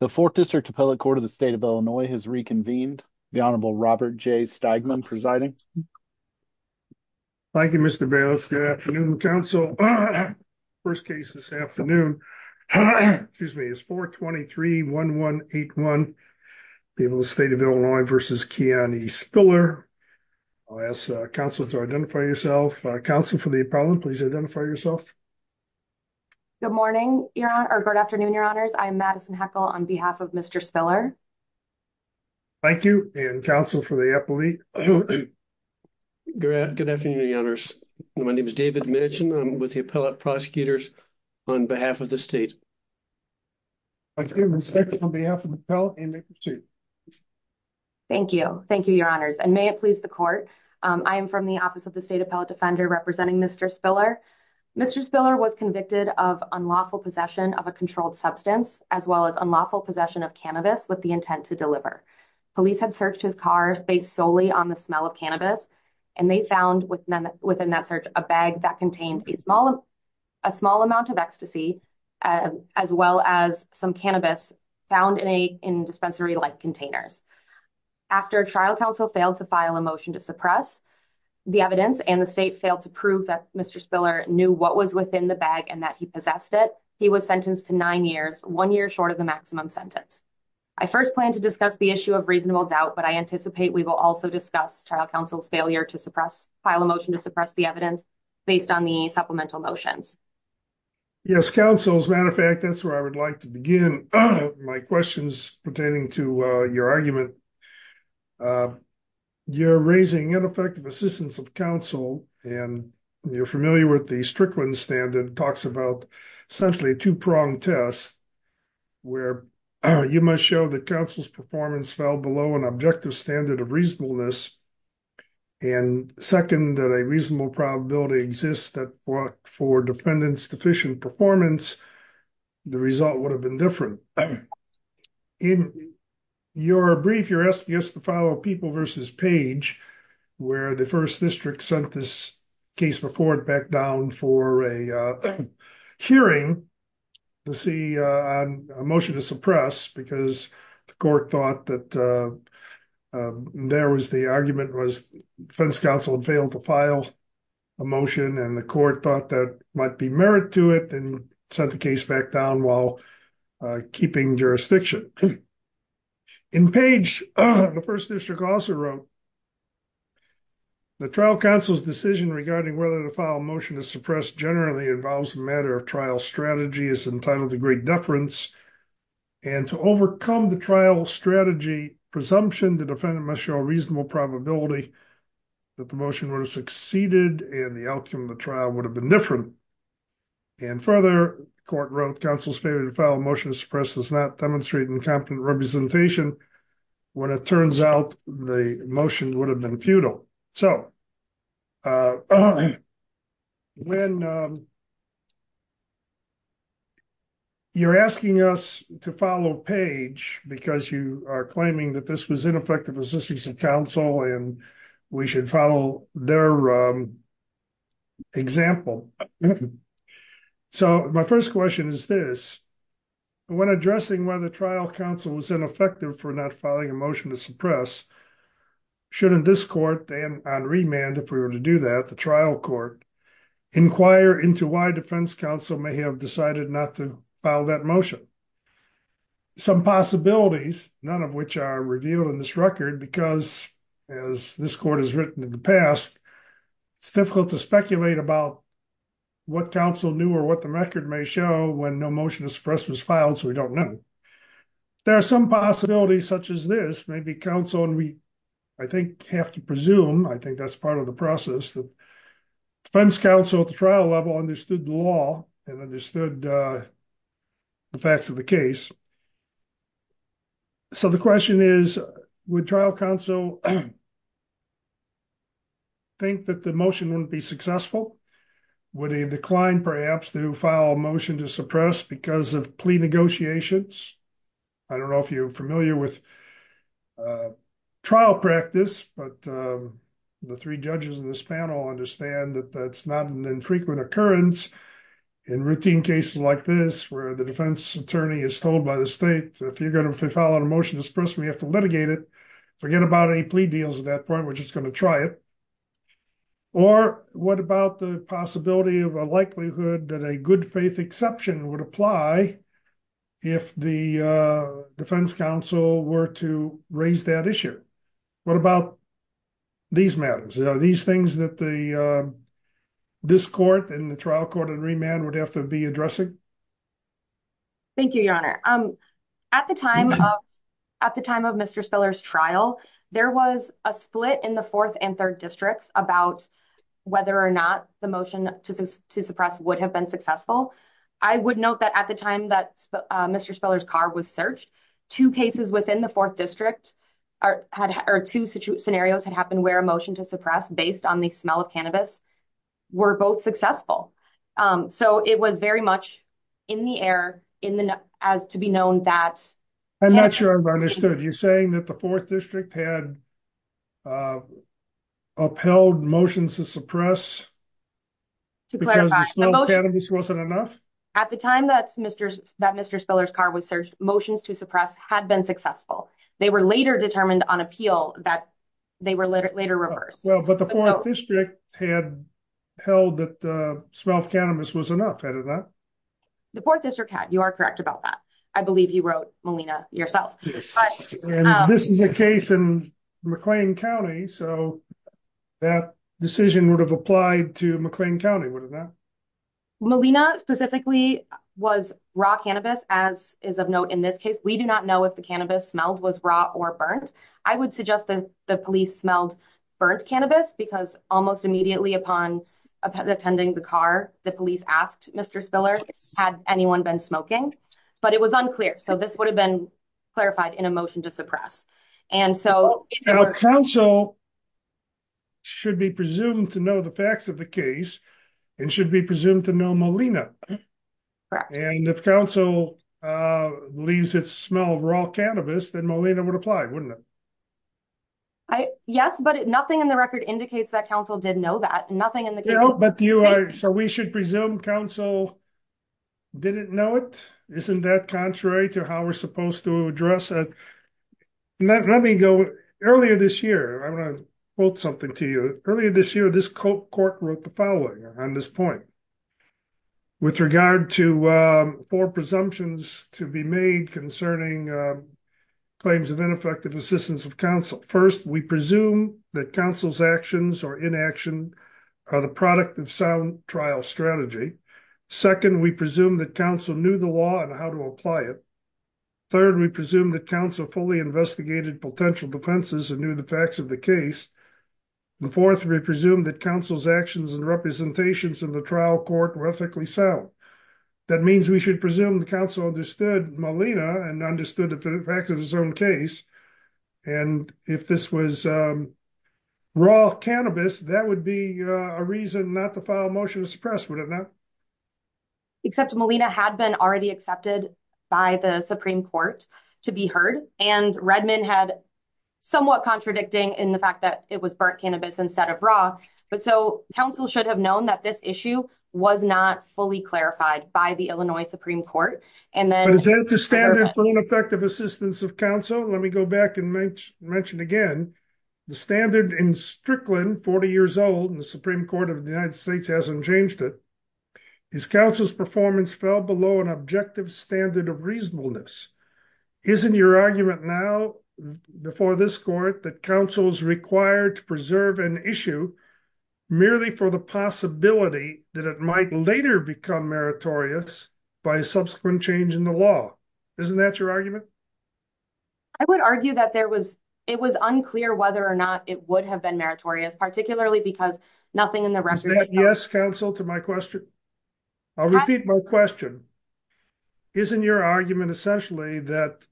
The fourth district appellate court of the state of Illinois has reconvened. The Honorable Robert J. Steigman presiding. Thank you Mr. Bales. Good afternoon counsel. First case this afternoon excuse me is 423-1181 people the state of Illinois versus Kiani Spiller. I'll ask counsel to identify yourself. Counsel for the appellant please identify yourself. Good morning your honor or good afternoon your honors. I'm Madison Heckel on behalf of Mr. Spiller. Thank you and counsel for the appellate. Good afternoon your honors. My name is David Mitchum. I'm with the appellate prosecutors on behalf of the state. I give respect on behalf of the appellate. Thank you. Thank you your honors and may it please the court. I am from the office of the state appellate defender representing Mr. Spiller. Mr. Spiller was convicted of unlawful possession of a controlled substance as well as unlawful possession of cannabis with the intent to deliver. Police had searched his car based solely on the smell of cannabis and they found within that search a bag that contained a small amount of ecstasy as well as some cannabis found in dispensary-like containers. After trial counsel failed to file a motion to suppress the evidence and the state failed to prove that Mr. Spiller knew what was within the bag and that he possessed it he was sentenced to nine years one year short of the maximum sentence. I first plan to discuss the issue of reasonable doubt but I anticipate we will also discuss trial counsel's failure to suppress file a motion to suppress the evidence based on the supplemental motions. Yes counsel as a matter of fact that's where I would like to begin my questions pertaining to your argument. You're raising ineffective assistance of counsel and you're familiar with the Strickland standard talks about essentially a two-pronged test where you must show that counsel's performance fell below an objective standard of reasonableness and second that a reasonable probability exists that for defendants deficient performance the result would have been different. In your brief you're asking us to follow people versus page where the first district sent this case report back down for a hearing to see a motion to suppress because the court thought that there was the argument was defense counsel had failed to file a motion and the court thought that might be merit to it and sent the case back down while keeping jurisdiction. In page the first district also wrote the trial counsel's decision regarding whether to file a motion to suppress generally involves a matter of trial strategy is entitled to great deference and to overcome the trial strategy presumption the defendant must show reasonable probability that the motion would have succeeded and the outcome of the trial would have been different and further court wrote counsel's failure to file a motion to suppress does not demonstrate incompetent representation when it turns out the motion would have been futile. So when you're asking us to follow page because you are claiming that this was ineffective counsel and we should follow their example. So my first question is this when addressing whether trial counsel was ineffective for not filing a motion to suppress shouldn't this court and on remand if we were to do that the trial court inquire into why defense counsel may have decided not to file that motion. Some possibilities none of which are revealed in this record because as this court has written in the past it's difficult to speculate about what counsel knew or what the record may show when no motion to suppress was filed so we don't know. There are some possibilities such as this maybe counsel and we I think have to presume I think that's part of the process that defense counsel at the trial level understood the law and understood the facts of the case. So the question is would trial counsel think that the motion wouldn't be successful? Would he decline perhaps to file a motion to suppress because of plea negotiations? I don't know if you're familiar with trial practice but the three judges in this panel understand that that's not an infrequent occurrence in routine cases like this where the defense attorney is told by the state if you're going to file a motion to suppress we have to litigate it. Forget about any plea deals at that point we're just going to try it. Or what about the possibility of a likelihood that a good faith exception would apply if the defense counsel were to raise that issue? What about these matters? Are these things that this court and the trial court in remand would have to be addressing? Thank you your honor. At the time of Mr. Speller's trial there was a split in the fourth and third districts about whether or not the motion to suppress would have been successful. I would note that at the time that Mr. Speller's car was searched two cases within the fourth district or two scenarios had happened where a motion to suppress based on the smell of cannabis were both successful. So it was very much in the air as to be known that. I'm not sure if I understood you're saying that the fourth district had upheld motions to suppress because the smell of cannabis wasn't enough? At the time that Mr. determined on appeal that they were later reversed. Well but the fourth district had held that the smell of cannabis was enough, had it not? The fourth district had. You are correct about that. I believe you wrote Molina yourself. This is a case in McLean County so that decision would have applied to McLean County, would it not? Molina specifically was raw cannabis as is of note in this case. We do not know if the cannabis smelled was raw or burnt. I would suggest that the police smelled burnt cannabis because almost immediately upon attending the car the police asked Mr. Speller had anyone been smoking but it was unclear. So this would have been clarified in a motion to suppress. And so council should be presumed to know the facts of the case and should be presumed to know Molina. And if council leaves its smell raw cannabis then Molina would apply, wouldn't it? Yes but nothing in the record indicates that council did know that. Nothing in the case. So we should presume council didn't know it? Isn't that contrary to how we're supposed to address it? Let me go earlier this year. I'm going to quote something to you. Earlier this year this court wrote the following on this point with regard to four presumptions to be made concerning claims of ineffective assistance of council. First we presume that council's actions or inaction are the product of sound trial strategy. Second we presume that council knew the law and how to apply it. Third we presume that council fully investigated potential defenses and knew the facts of the case. The fourth we presume that council's actions and representations of the trial court were ethically sound. That means we should presume the council understood Molina and understood the facts of its own case. And if this was raw cannabis that would be a reason not to file a motion to suppress, would it not? Except Molina had been already accepted by the Supreme Court to be heard and Redmond had somewhat contradicting in the fact that it was burnt cannabis instead of raw. But so council should have known that this issue was not fully clarified by the Illinois Supreme Court. But is that the standard for ineffective assistance of council? Let me go back and mention again the standard in Strickland 40 years old and the Supreme Court of the United States hasn't changed it. Is council's performance fell below an objective standard of reasonableness? Isn't your argument now before this court that council is required to preserve an issue merely for the possibility that it might later become meritorious by a subsequent change in the law? Isn't that your argument? I would argue that there was it was unclear whether or not it would have been meritorious particularly because nothing in the isn't your argument essentially that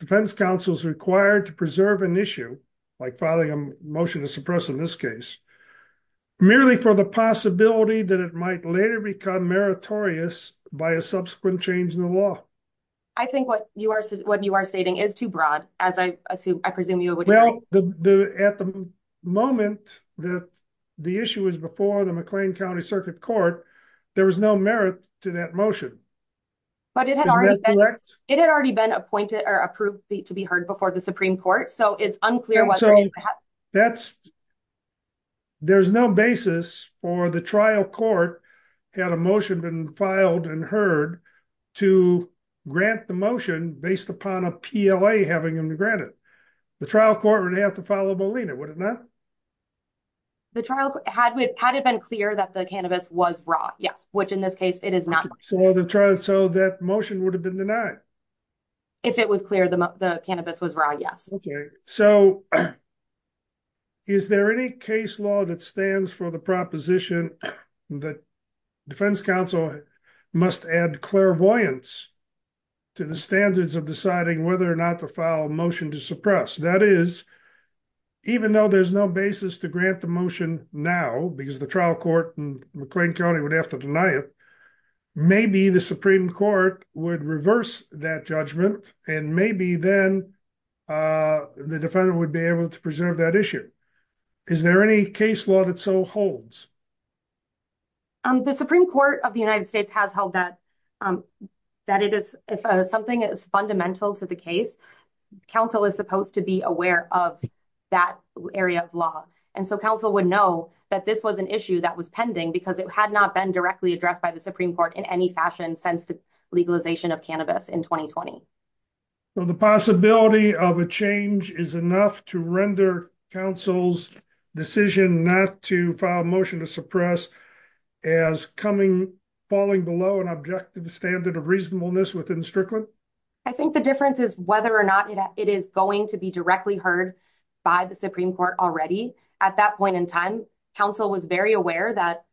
defense counsel is required to preserve an issue like filing a motion to suppress in this case merely for the possibility that it might later become meritorious by a subsequent change in the law. I think what you are what you are stating is too broad as I assume I presume you would know the at the moment that the issue is before the McLean County Circuit Court there was no merit to that motion. But it had already been it had already been appointed or approved to be heard before the Supreme Court so it's unclear whether that's there's no basis for the trial court had a motion been filed and heard to grant the motion based upon a PLA having them to grant it. The trial court would have to follow Bolina would it not? The trial had had it been clear that the cannabis was raw yes which in this case it is not. So the trial so that motion would have been denied. If it was clear the cannabis was raw yes. Okay so is there any case law that stands for the proposition that defense counsel must add clairvoyance to the standards of deciding whether or not to file a motion to suppress that is even though there's no basis to grant the motion now because the trial court in McLean County would have to deny it maybe the Supreme Court would reverse that judgment and maybe then the defendant would be able to preserve that issue. Is there any case law that so holds? The Supreme Court of the United States has held that that it is if something is fundamental to the case counsel is supposed to be aware of that area of law and so counsel would know that this was an issue that was pending because it had not been directly addressed by the Supreme Court in any fashion since the legalization of cannabis in 2020. So the possibility of a change is enough to render counsel's decision not to file a motion to suppress as coming falling below an objective standard of reasonableness within Strickland. I think the difference is whether or not it is going to be directly heard by the Supreme Court already at that point in time counsel was very aware that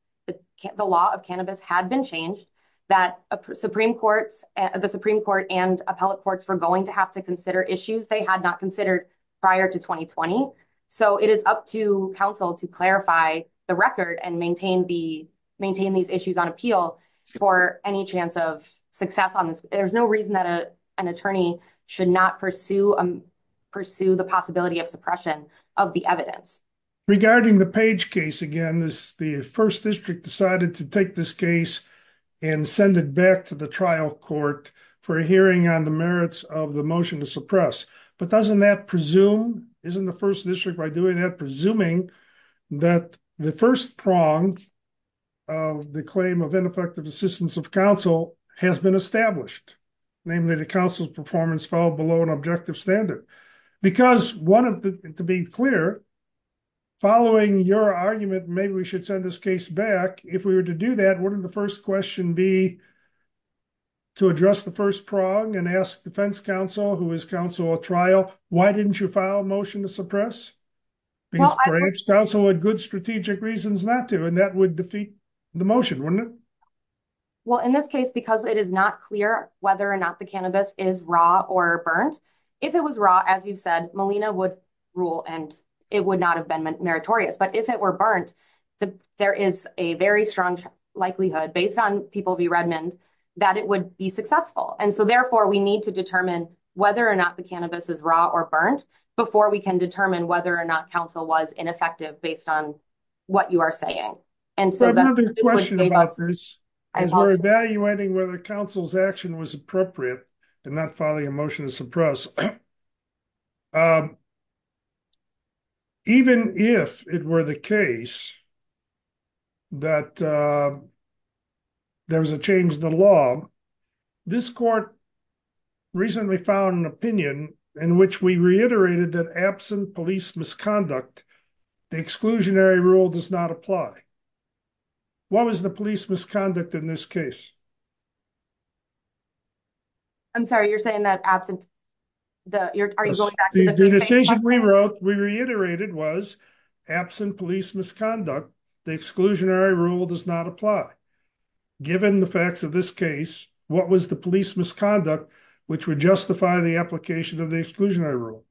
the law of cannabis had been changed that the Supreme Court and appellate courts were going to have to consider issues they had not considered prior to 2020. So it is up to counsel to clarify the record and maintain the maintain these issues on appeal for any chance of success on this there's no reason that a an attorney should not pursue the possibility of suppression of the evidence. Regarding the Page case again this the first district decided to take this case and send it back to the trial court for a hearing on the merits of the motion to suppress but doesn't that presume isn't the first district by doing that presuming that the first prong of the claim of ineffective assistance of counsel has been established namely the council's performance fell below an objective standard because one of the to be clear following your argument maybe we should send this case back if we were to do that wouldn't the first question be to address the prong and ask defense counsel who is counsel a trial why didn't you file a motion to suppress because council had good strategic reasons not to and that would defeat the motion wouldn't it well in this case because it is not clear whether or not the cannabis is raw or burnt if it was raw as you've said melina would rule and it would not have been meritorious but if it were burnt there is a very strong likelihood based on people v redmond that it would be successful and so therefore we need to determine whether or not the cannabis is raw or burnt before we can determine whether or not counsel was ineffective based on what you are saying and so that's another question about this is we're evaluating whether counsel's action was appropriate and not filing a motion to press even if it were the case that there was a change in the law this court recently found an opinion in which we reiterated that absent police misconduct the exclusionary rule does not apply what was the police misconduct in this case i'm sorry you're saying that absent the you're are you going back to the decision we wrote we reiterated was absent police misconduct the exclusionary rule does not apply given the facts of this case what was the police misconduct which would justify the application of the exclusionary rule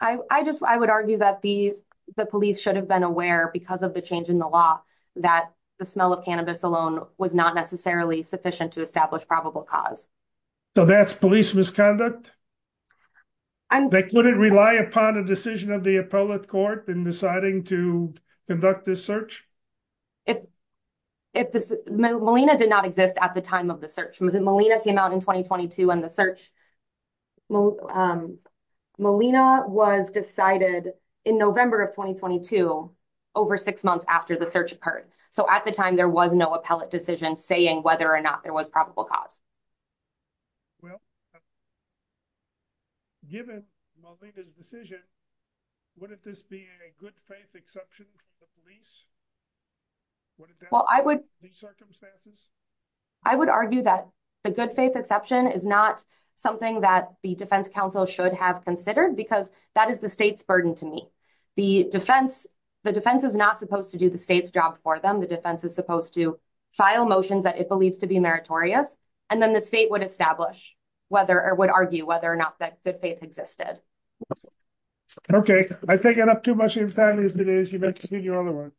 i i just i would argue that these the police should have been aware because of the change in the law that the smell of cannabis alone was not necessarily sufficient to establish probable cause so that's police misconduct and they couldn't rely upon a decision of the appellate court in deciding to conduct this search if if this melina did not exist at the time of the search melina came out in 2022 and the search melina was decided in november of 2022 over six months after the search occurred so at the time there was no appellate decision saying whether or not there was probable cause well given melina's decision wouldn't this be a good faith exception for the police what well i would circumstances i would argue that the good faith exception is not something that the defense council should have considered because that is the state's burden to me the defense the defense is not supposed to do the state's job for them the defense is supposed to file motions that it believes to be meritorious and then the state would establish whether or would argue whether or not that good faith existed okay i've taken up too much of your time otherwise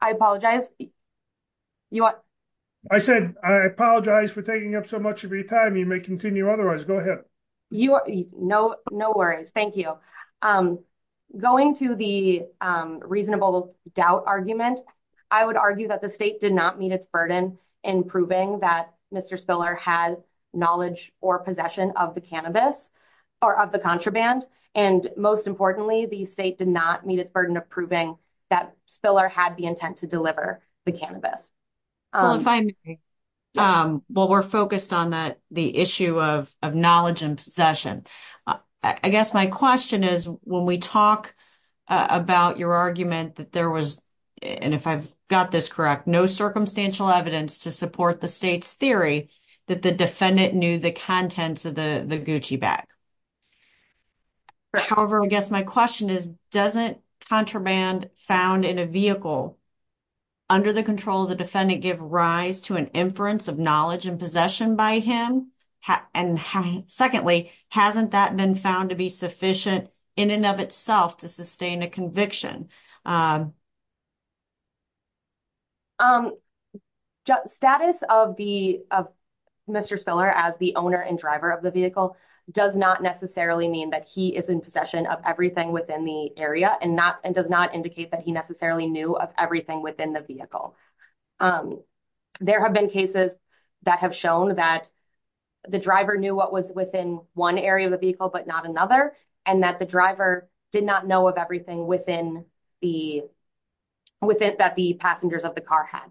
i apologize you want i said i apologize for taking up so much of your time you may continue otherwise go ahead you are no no worries thank you um going to the um reasonable doubt argument i would argue that the state did not meet its burden in proving that mr spiller had knowledge or possession of the cannabis or of the contraband and most importantly the state did not meet its burden of proving that spiller had the intent to deliver the cannabis um well we're focused on that the issue of of knowledge and possession i guess my question is when we talk about your argument that there was and if i've got this correct no circumstantial evidence to support the state's theory that the defendant knew the contents of the the gucci bag however i guess my question is doesn't contraband found in a vehicle under the control of the defendant give rise to an inference of knowledge and possession by him and secondly hasn't that been found to be sufficient in and of itself to sustain a conviction um um status of the of mr spiller as the owner and driver of the vehicle does not necessarily mean that he is in possession of everything within the area and not and does not indicate that he necessarily knew of everything within the vehicle um there have been cases that have shown that the driver knew what was within one area of the vehicle but not another and that the driver did not know of everything within the within that the passengers of the car had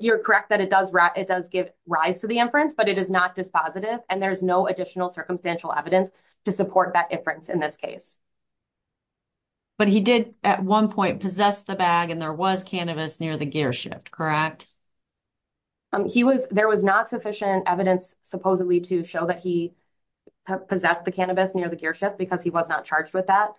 you're correct that it does wrap it does give rise to the inference but it is not dispositive and there's no additional circumstantial evidence to support that inference in this case but he did at one point possess the bag and there was cannabis near the gear shift correct um he was there was not sufficient evidence supposedly to show that he possessed the cannabis near the gear shift because he was not charged with that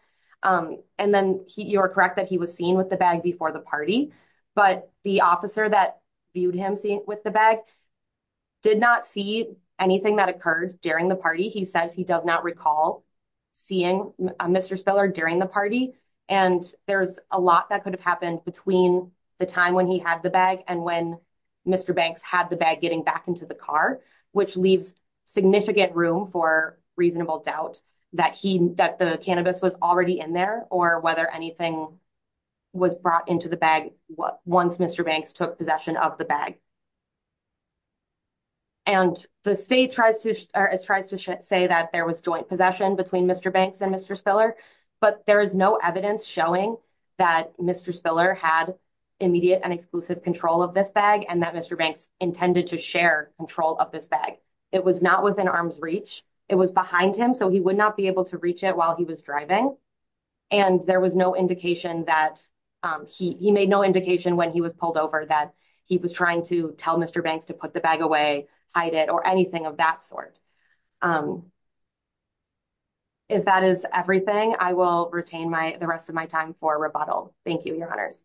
um and then he you're correct that he was seen with the bag before the party but the officer that viewed him seeing with the bag did not see anything that occurred during the party he says he does not recall seeing a mr spiller during the party and there's a lot that could have happened between the time when he had the bag and when mr banks had the bag getting back which leaves significant room for reasonable doubt that he that the cannabis was already in there or whether anything was brought into the bag what once mr banks took possession of the bag and the state tries to tries to say that there was joint possession between mr banks and mr spiller but there is no evidence showing that mr spiller had immediate and exclusive control of this bag and that mr banks intended to share control of this bag it was not within arm's reach it was behind him so he would not be able to reach it while he was driving and there was no indication that um he he made no indication when he was pulled over that he was trying to tell mr banks to put the bag away hide it or anything of that sort um if that is everything i will retain my rest of my time for rebuttal thank you your honors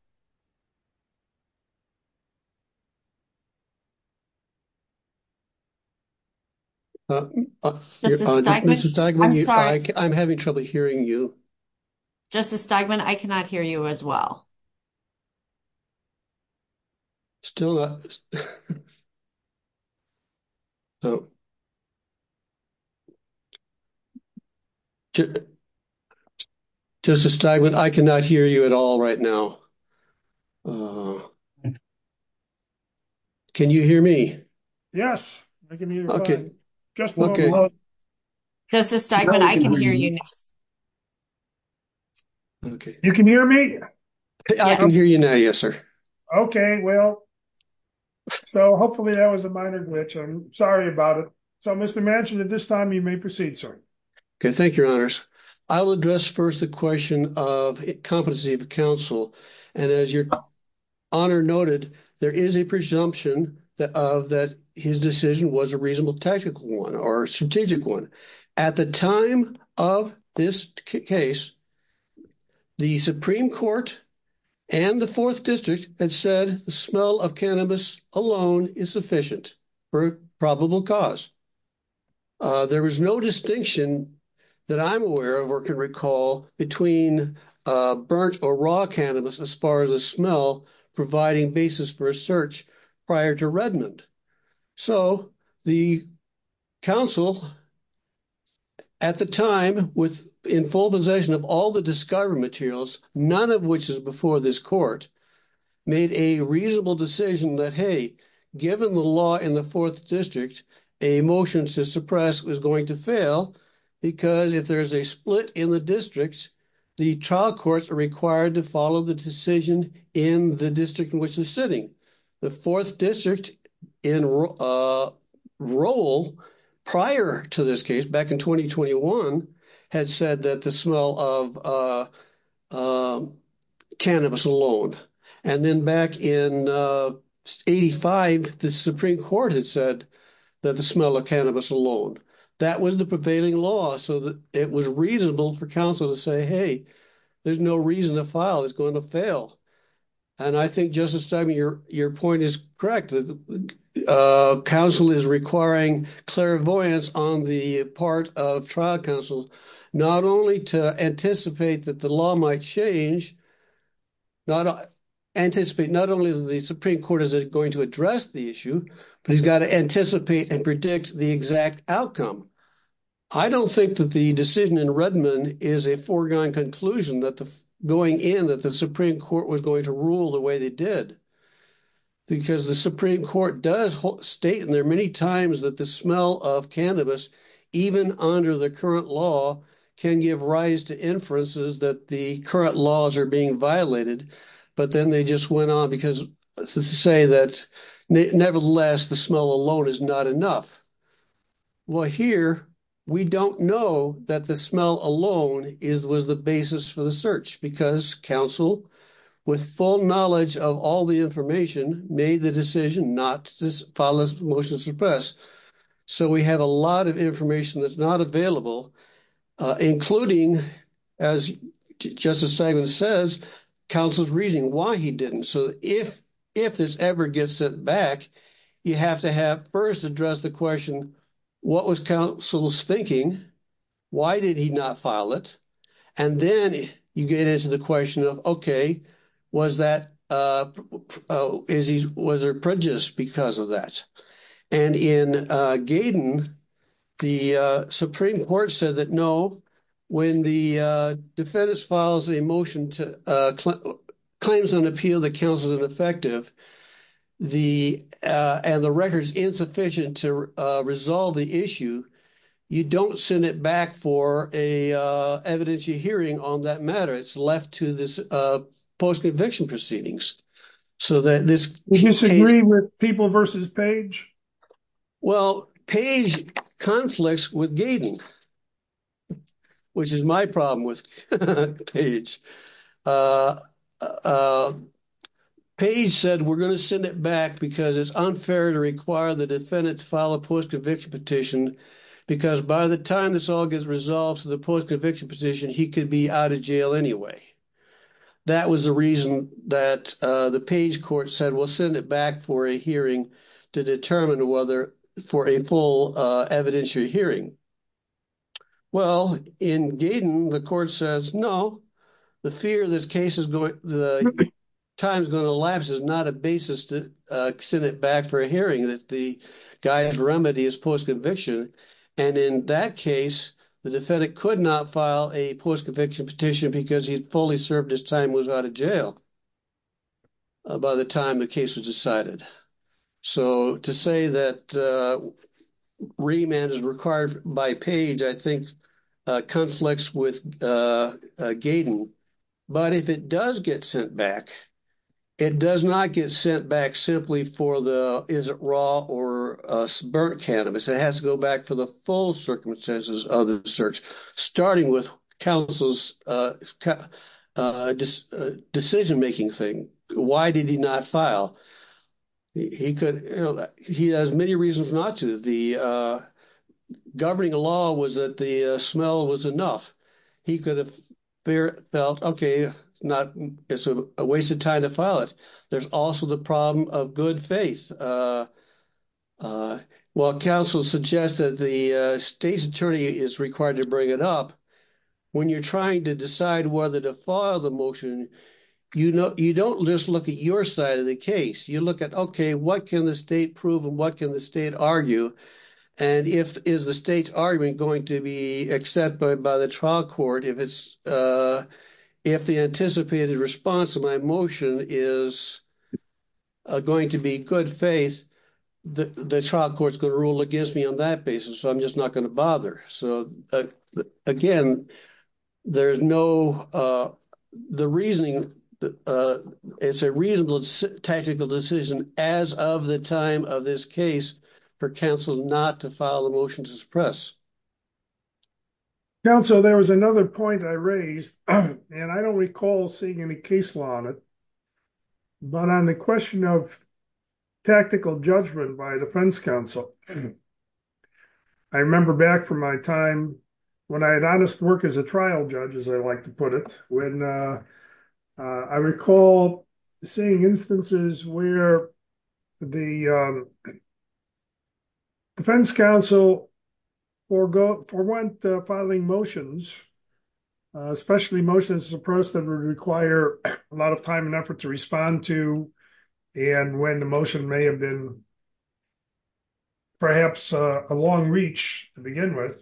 i'm having trouble hearing you justice steigman i cannot hear you as well still uh so you justice steigman i cannot hear you at all right now can you hear me yes i can hear you okay just okay justice steigman i can hear you okay you can hear me i can hear you now yes sir okay well so hopefully that was a minor glitch i'm sorry about it so mr mansion at this time you may proceed sir okay thank your honors i will address first the question of competency of counsel and as your honor noted there is a presumption that of that his decision was a reasonable tactical one or strategic one at the time of this case the supreme court and the fourth district had said the smell of cannabis alone is sufficient for probable cause there is no distinction that i'm aware of or can recall between uh burnt or raw cannabis as far as the smell providing basis for a search prior to redmond so the council at the time with in full possession of all the discovery materials none of which is before this court made a reasonable decision that hey given the law in the fourth district a motion to suppress was going to fail because if there's a split in the district the trial courts are required to follow the decision in the district which is sitting the fourth district in uh role prior to this case back in 2021 had said that the smell of uh um cannabis alone and then back in uh 85 the supreme court had said that the smell of cannabis alone that was the prevailing law so that it was reasonable for counsel to say hey there's no reason to file it's going to fail and i think justice stein your your point is correct uh council is requiring clairvoyance on the part of trial counsel not only to anticipate that the law might change not anticipate not only the supreme court is going to address the issue but he's got to anticipate and predict the exact outcome i don't think that the decision in redmond is a foregone conclusion that the going in that the supreme court was going to rule the way they did because the supreme court does state and there are many times that the smell of cannabis even under the current law can give rise to inferences that the current laws are being violated but then they just went on because to say that nevertheless the smell alone is not enough well here we don't know that the smell alone is was the basis for the search because council with full knowledge of all the information made the decision not to follow this motion suppress so we have a lot of information that's not available uh including as justice segment says counsel's reading why he didn't so if if this ever gets sent back you have to have first address the question what was counsel's thinking why did he not file it and then you get into the question of okay was that uh oh is he was there prejudice because of that and in uh gaiden the uh supreme court said that no when the uh defendants files a motion to uh claims an appeal that counts as ineffective the uh and the record's insufficient to uh resolve the issue you don't send it back for a uh evidentiary hearing on that matter it's left to this uh post-conviction proceedings so that this disagree with people versus page well page conflicts with gaiden which is my problem with page uh uh page said we're going to send it back because it's unfair to require the defendants file a post-conviction petition because by the time this all gets resolved to the post-conviction position he could be out of jail anyway that was the reason that uh the page court said we'll send it back for a hearing to determine whether for a full uh evidentiary hearing well in gaiden the court says no the fear this case is going the time's going to lapse is not a basis to uh send it back for a hearing that the guy's remedy is post-conviction and in that case the defendant could not file a post-conviction petition because he had fully served his time was out of jail by the time the case was decided so to say that uh remand is required by page i think conflicts with uh gaiden but if it does get sent back it does not get sent back simply for the is it raw or uh burnt cannabis it has to go back for the full circumstances of the search starting with counsel's uh uh decision making thing why did he not file he could you know he has many reasons not to the uh governing law was that the smell was enough he could have felt okay it's not it's a waste of time to file it there's also the problem of good faith uh uh well counsel suggests that the uh state's attorney is required to bring it up when you're trying to decide whether to file the motion you know you don't just look at your side of the case you look at okay what can the state prove and what can the state argue and if is the state's argument going to be accepted by the trial court if it's uh if the anticipated response of my motion is going to be good faith the trial court's going to rule against me on that basis so i'm just not going to bother so again there's no uh the reasoning uh it's a reasonable tactical decision as of the time of this case for counsel not to file the motion to suppress counsel there was another point i raised and i don't recall seeing any case law on it but on the question of tactical judgment by defense counsel i remember back from my time when i had honest work as a trial judge as i like to put it when uh i recall seeing instances where the um defense counsel forgo for one filing motions especially motions suppress that would require a lot of time and effort to respond to and when the motion may have been perhaps a long reach to begin with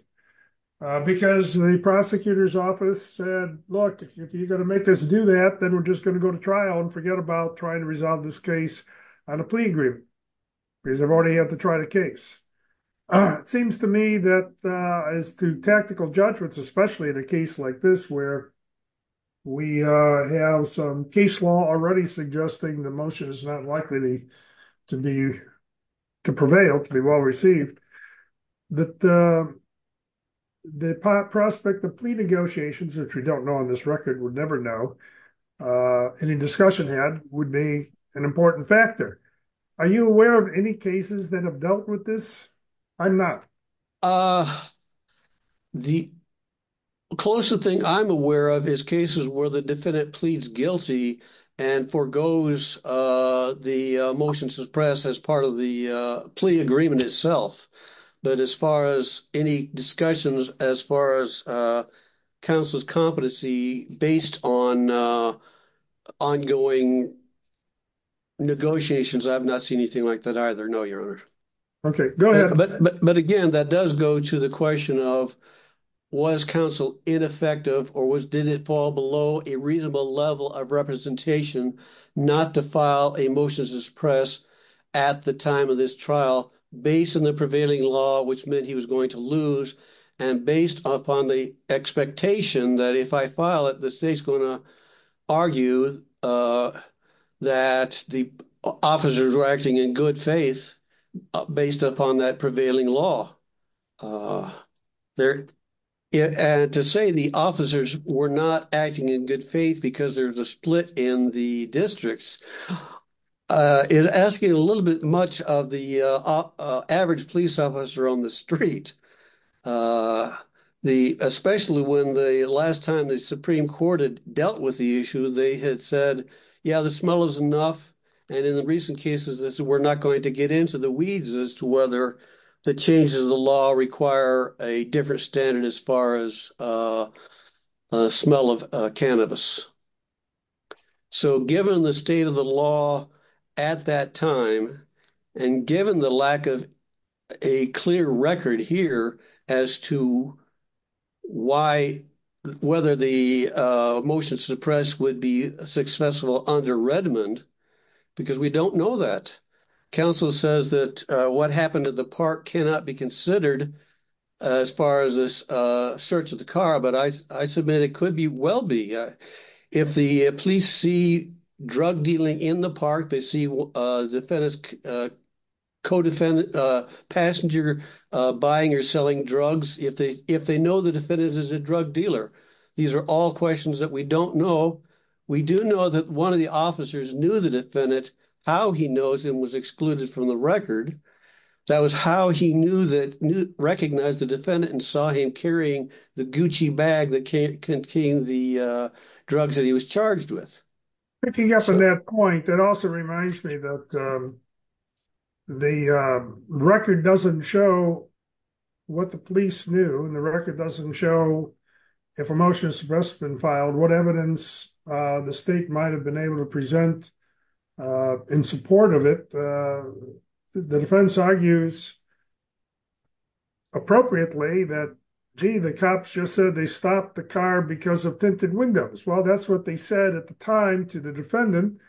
because the prosecutor's office said look if you're going to make this do that then we're just going to go to trial and forget about trying to on a plea agreement because i've already had to try the case it seems to me that uh as to tactical judgments especially in a case like this where we uh have some case law already suggesting the motion is not likely to be to prevail to be well received that the the prospect of plea negotiations which we don't know on this record would never know uh any discussion had would be an important factor are you aware of any cases that have dealt with this i'm not uh the closer thing i'm aware of is cases where the defendant pleads guilty and forgoes uh the motion suppressed as part of the uh plea agreement itself but as far as any discussions as far as uh counsel's competency based on uh ongoing negotiations i've not seen anything like that either no your honor okay go ahead but but again that does go to the question of was counsel ineffective or was did it fall below a reasonable level of representation not to file a motion to suppress at the time of this trial based on the prevailing law which meant he was going to lose and based upon the expectation that if i file it the state's going to argue uh that the officers were acting in good faith based upon that prevailing law there and to say the officers were not acting in good faith because there's a split in the districts uh it asking a little bit much of the uh average police officer on the street uh the especially when the last time the supreme court had dealt with the issue they had said yeah the smell is enough and in the recent cases this we're not going to get into the weeds as to whether the changes of the law require a different standard as far as uh smell of cannabis so given the state of the law at that time and given the lack of a clear record here as to why whether the uh motion suppress would be successful under redmond because we don't know that counsel says that uh what happened at the park cannot be considered as far as this uh search the car but i i submit it could be well be if the police see drug dealing in the park they see defendants co-defendant uh passenger uh buying or selling drugs if they if they know the defendant is a drug dealer these are all questions that we don't know we do know that one of the officers knew the defendant how he knows him was excluded from the record that was how he knew that knew the defendant and saw him carrying the gucci bag that can't contain the uh drugs that he was charged with picking up on that point that also reminds me that um the uh record doesn't show what the police knew and the record doesn't show if a motion suppress has been filed what evidence uh the state might have been able to present uh in support of it uh the defense argues appropriately that gee the cops just said they stopped the car because of tinted windows well that's what they said at the time to the defendant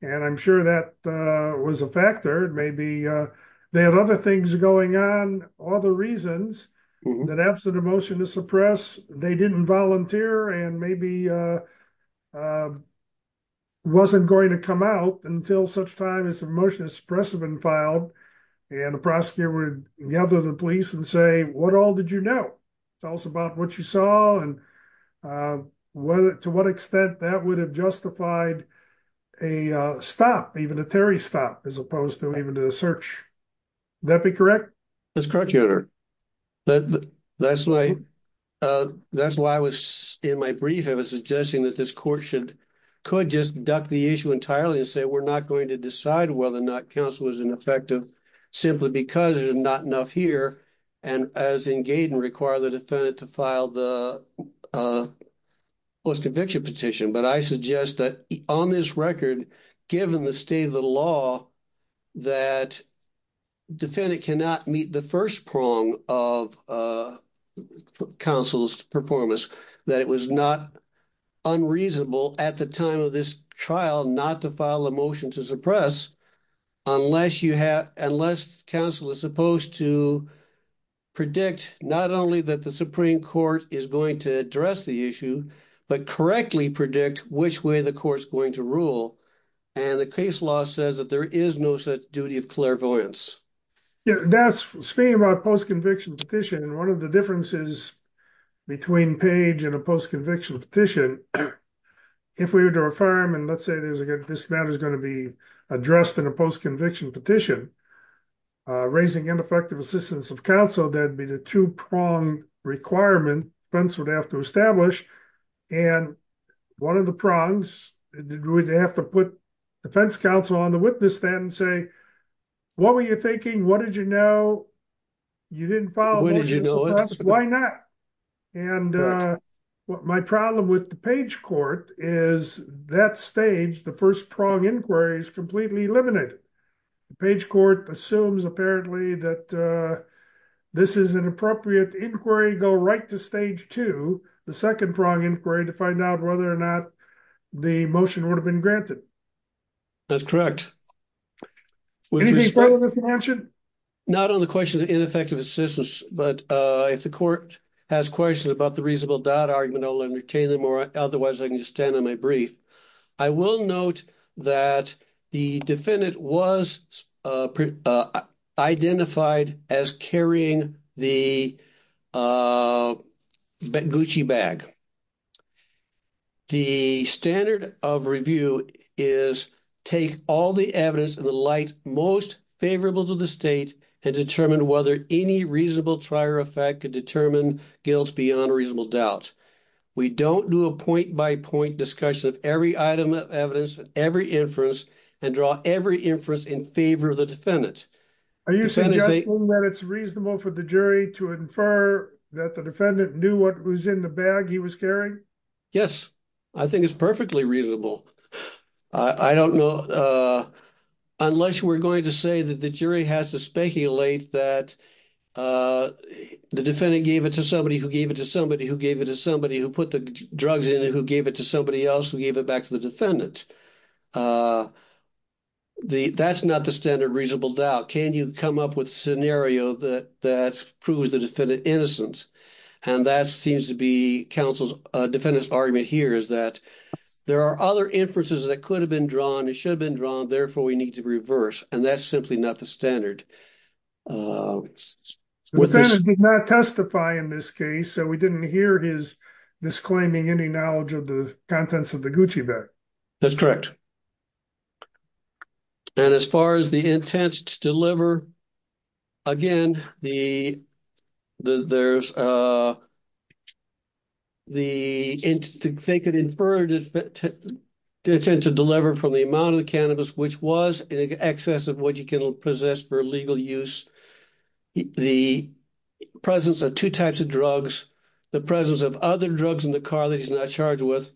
and i'm sure that uh was a factor maybe uh they had other things going on all the reasons that absent a motion to suppress they didn't volunteer and maybe uh uh wasn't going to come out until such time as the motion is suppressive and filed and the prosecutor would gather the police and say what all did you know it's also about what you saw and uh whether to what extent that would have justified a uh stop even a terry stop as opposed to even to the search that'd be correct that's correct your honor that that's why uh that's why i was in my brief i was suggesting that this court should could just duck the issue and effective simply because there's not enough here and as in gaiden require the defendant to file the uh post conviction petition but i suggest that on this record given the state of the law that defendant cannot meet the first prong of uh counsel's performance that it was not unreasonable at the time of this trial not to file a motion to suppress unless you have unless counsel is supposed to predict not only that the supreme court is going to address the issue but correctly predict which way the court is going to rule and the case law says that there is no such duty of clairvoyance yeah that's speaking about post conviction petition one of the differences between page and a post conviction petition if we were to affirm and let's say there's a good this matter is going to be addressed in a post conviction petition uh raising ineffective assistance of counsel that'd be the two-prong requirement fence would have to establish and one of the prongs we'd have to put defense counsel on the witness stand and what were you thinking what did you know you didn't follow why not and uh what my problem with the page court is that stage the first prong inquiry is completely eliminated the page court assumes apparently that uh this is an appropriate inquiry go right to stage two the second prong inquiry to find out whether or not the motion would have been granted that's correct would you be following this connection not on the question of ineffective assistance but uh if the court has questions about the reasonable doubt argument i'll entertain them or otherwise i can just stand on my brief i will note that the defendant was uh identified as carrying the uh gucci bag the standard of review is take all the evidence in the light most favorable to the state and determine whether any reasonable trier effect could determine guilt beyond a reasonable doubt we don't do a point by point discussion of every item of evidence and every inference and draw every inference in favor of the defendant are you suggesting that it's reasonable for the jury to infer that the defendant knew what was in the bag he was carrying yes i think it's perfectly reasonable i i don't know uh unless we're going to say that the jury has to speculate that uh the defendant gave it to somebody who gave it to somebody who gave it to somebody who put the drugs in it who gave it to somebody else who gave it back to the defendant uh the that's not the standard reasonable doubt can you come up with a scenario that that proves the defendant innocent and that seems to be counsel's uh defendant's argument here is that there are other inferences that could have been drawn it should have been drawn therefore we need to reverse and that's simply not the standard uh the defendant did not testify in this case so we didn't hear his disclaiming any knowledge of the contents of the gucci bag that's correct and as far as the intent to deliver again the the there's uh the in to take an inferred intent to deliver from the amount of cannabis which was in excess of what you can possess for legal use the presence of two types of drugs the presence of other drugs in the car that he's not charged with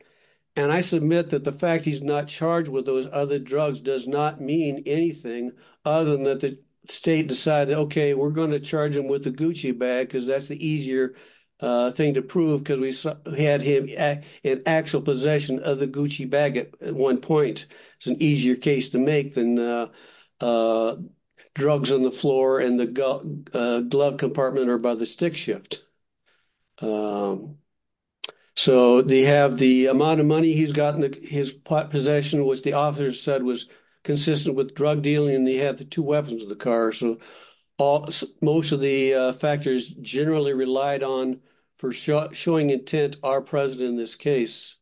and i submit that the fact he's not charged with those other drugs does not mean anything other than that the state decided okay we're going to charge him with the gucci bag because that's the easier uh thing to prove because we had him in actual possession of the gucci bag at one point it's an easier case to make than uh drugs on the floor and the glove compartment or by the stick shift so they have the amount of money he's gotten his possession which the author said was consistent with drug dealing and they had the two weapons of the car so all most of the factors generally relied on for showing intent are present in this case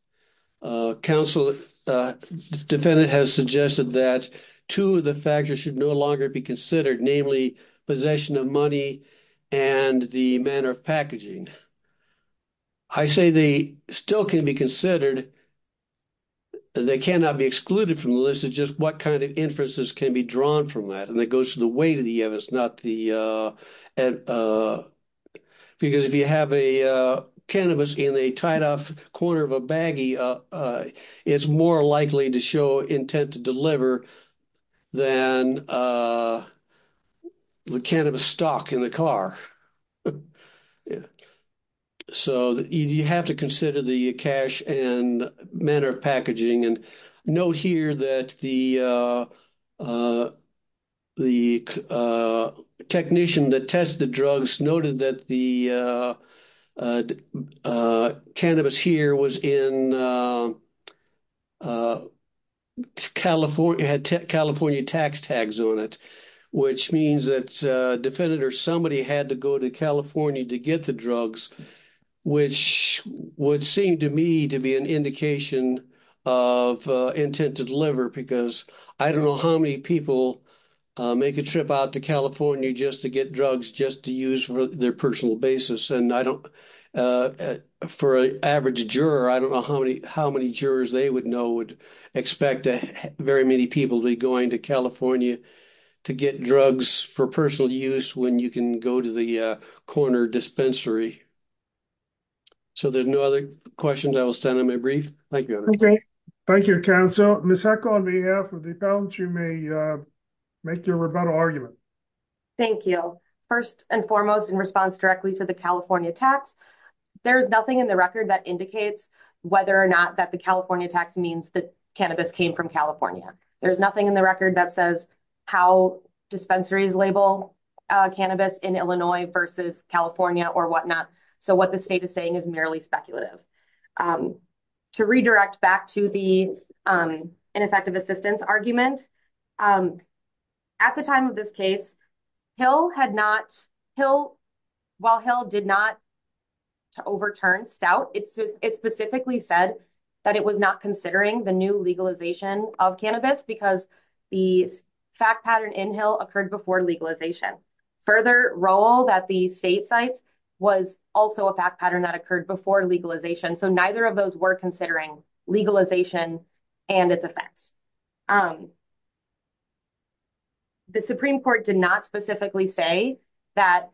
uh counsel defendant has suggested that two of the factors should no longer be considered namely possession of money and the manner of packaging i say they still can be considered they cannot be excluded from the list is just what kind of inferences can be drawn from that and that goes to the weight of the evidence not the uh and uh because if you have a uh cannabis in a tied-off corner of a baggie uh uh it's more likely to show intent to deliver than uh the cannabis stock in the car so you have to consider the cash and manner of packaging and note here that the uh uh the uh technician that tested drugs noted that the uh uh cannabis here was in uh california had california tax tags on it which means that uh defendant or somebody had to go to california to get the drugs which would seem to me to be an indication of uh intent to deliver because i don't know how many people uh make a trip out to california just to get drugs just to use for their personal basis and i don't uh for an average juror i don't know how many how many jurors they would know would expect very many people to be going to california to get drugs for personal use when you can go to the uh corner dispensary so there's no other questions i will send them a brief thank you thank you counsel miss heck on behalf of the balance you may uh make your rebuttal argument thank you first and foremost in response directly to the california tax there is nothing in the record that indicates whether or not that the california tax means that cannabis came from california there's nothing in the record that says how dispensaries label uh cannabis in illinois versus california or whatnot so what the state is saying is merely speculative um to redirect back to the um ineffective assistance argument um at the time of this case hill had not hill while hill did not to overturn stout it's it specifically said that it was not considering the new legalization of cannabis because the fact pattern in hill occurred before legalization further role that the state sites was also a fact pattern that occurred before legalization so neither of those were considering legalization and its effects um the supreme court did not specifically say that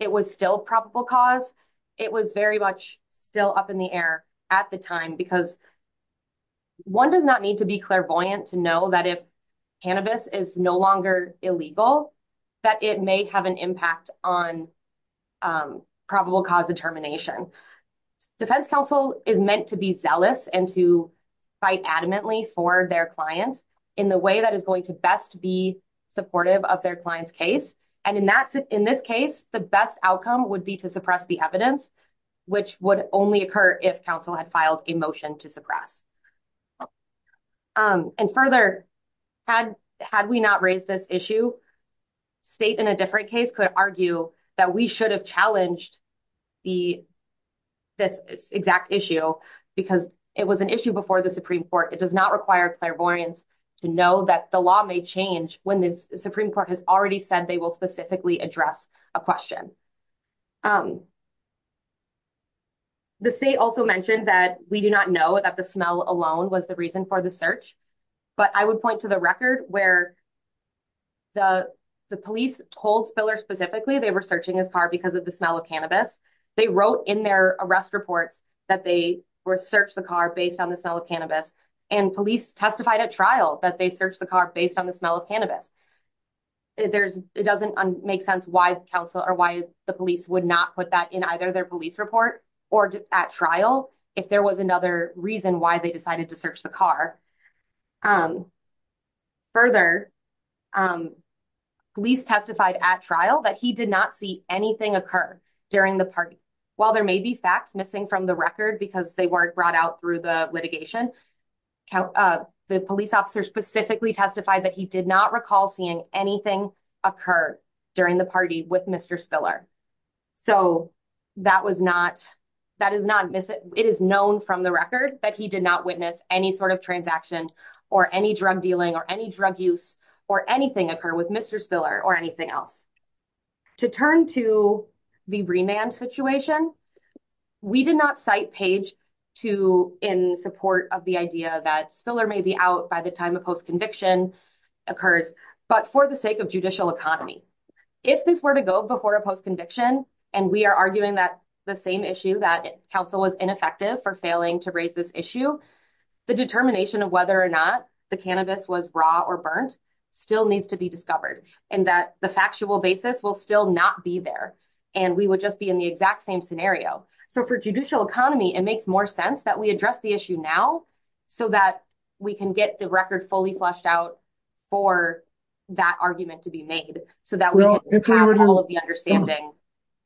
it was still probable cause it was very much still up in the air at the time because one does not need to be clairvoyant to know that if cannabis is no longer illegal that it may have an impact on um probable cause determination defense counsel is meant to be zealous and to fight adamantly for their clients in the way that is going to best be supportive of their client's case and in that in this case the best outcome would be to suppress the evidence which would only occur if council had filed a motion to press um and further had had we not raised this issue state in a different case could argue that we should have challenged the this exact issue because it was an issue before the supreme court it does not require clairvoyance to know that the law may change when the supreme court has already said they will specifically address a question um the state also mentioned that we do not know that the smell alone was the reason for the search but i would point to the record where the the police told spiller specifically they were searching his car because of the smell of cannabis they wrote in their arrest reports that they were searched the car based on the smell of cannabis and police testified at trial that they searched the car based on the smell of cannabis there's it doesn't make sense why council or why the police would not put that in either their police report or at trial if there was another reason why they decided to search the car um further um gleece testified at trial that he did not see anything occur during the party while there may be facts missing from the record because they weren't brought out through the litigation count uh the police officer specifically testified that he did not recall seeing anything occur during the party with mr spiller so that was not that is not it is known from the record that he did not witness any sort of transaction or any drug dealing or any drug use or anything occur with mr spiller or anything else to turn to the remand situation we did not cite page to in support of the idea that spiller may be out by the time of post-conviction occurs but for the sake of judicial economy if this were to go before a post-conviction and we are arguing that the same issue that council was ineffective for failing to raise this issue the determination of whether or not the cannabis was raw or burnt still needs to be discovered and that the factual basis will still not be there and we would just be in the exact same scenario so for judicial economy it makes more sense that we address the issue now so that we can get the record fully fleshed out for that argument to be made so that we have all of the understanding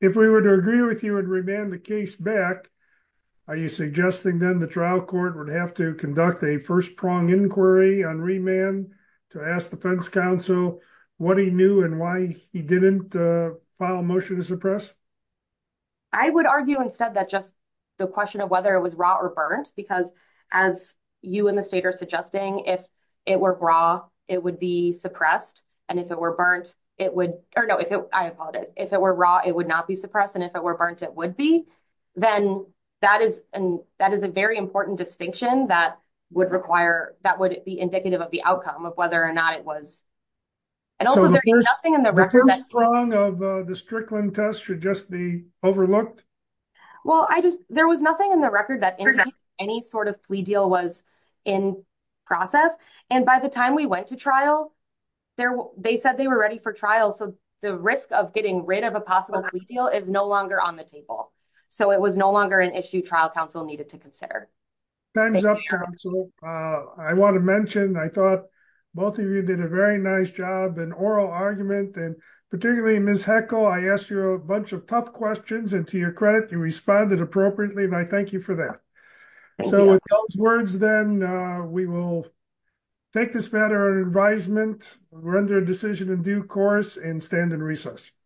if we were to agree with you and remand the case back are you suggesting then the trial court would have to conduct a first prong inquiry on remand to ask defense council what he knew and why he didn't uh file a motion to suppress i would argue instead that just the question of whether it was raw or burnt because as you and the state are suggesting if it were raw it would be suppressed and if it were burnt it would or no if it i apologize if it were raw it would not be suppressed and if it were burnt it would be then that is and that is a very important distinction that would require that would be indicative of the outcome of whether or not it was and also there's nothing in the strong of the strickland test should just be overlooked well i just there was nothing in the record that any sort of plea deal was in process and by the time we went to trial there they said they were ready for trial so the risk of getting rid of a possible plea deal is no longer on the table so it was no longer an issue trial council needed to consider time's up uh i want to mention i thought both of you did a very nice job an oral questions and to your credit you responded appropriately and i thank you for that so with those words then uh we will take this matter on advisement we're under a decision in due course and stand in recess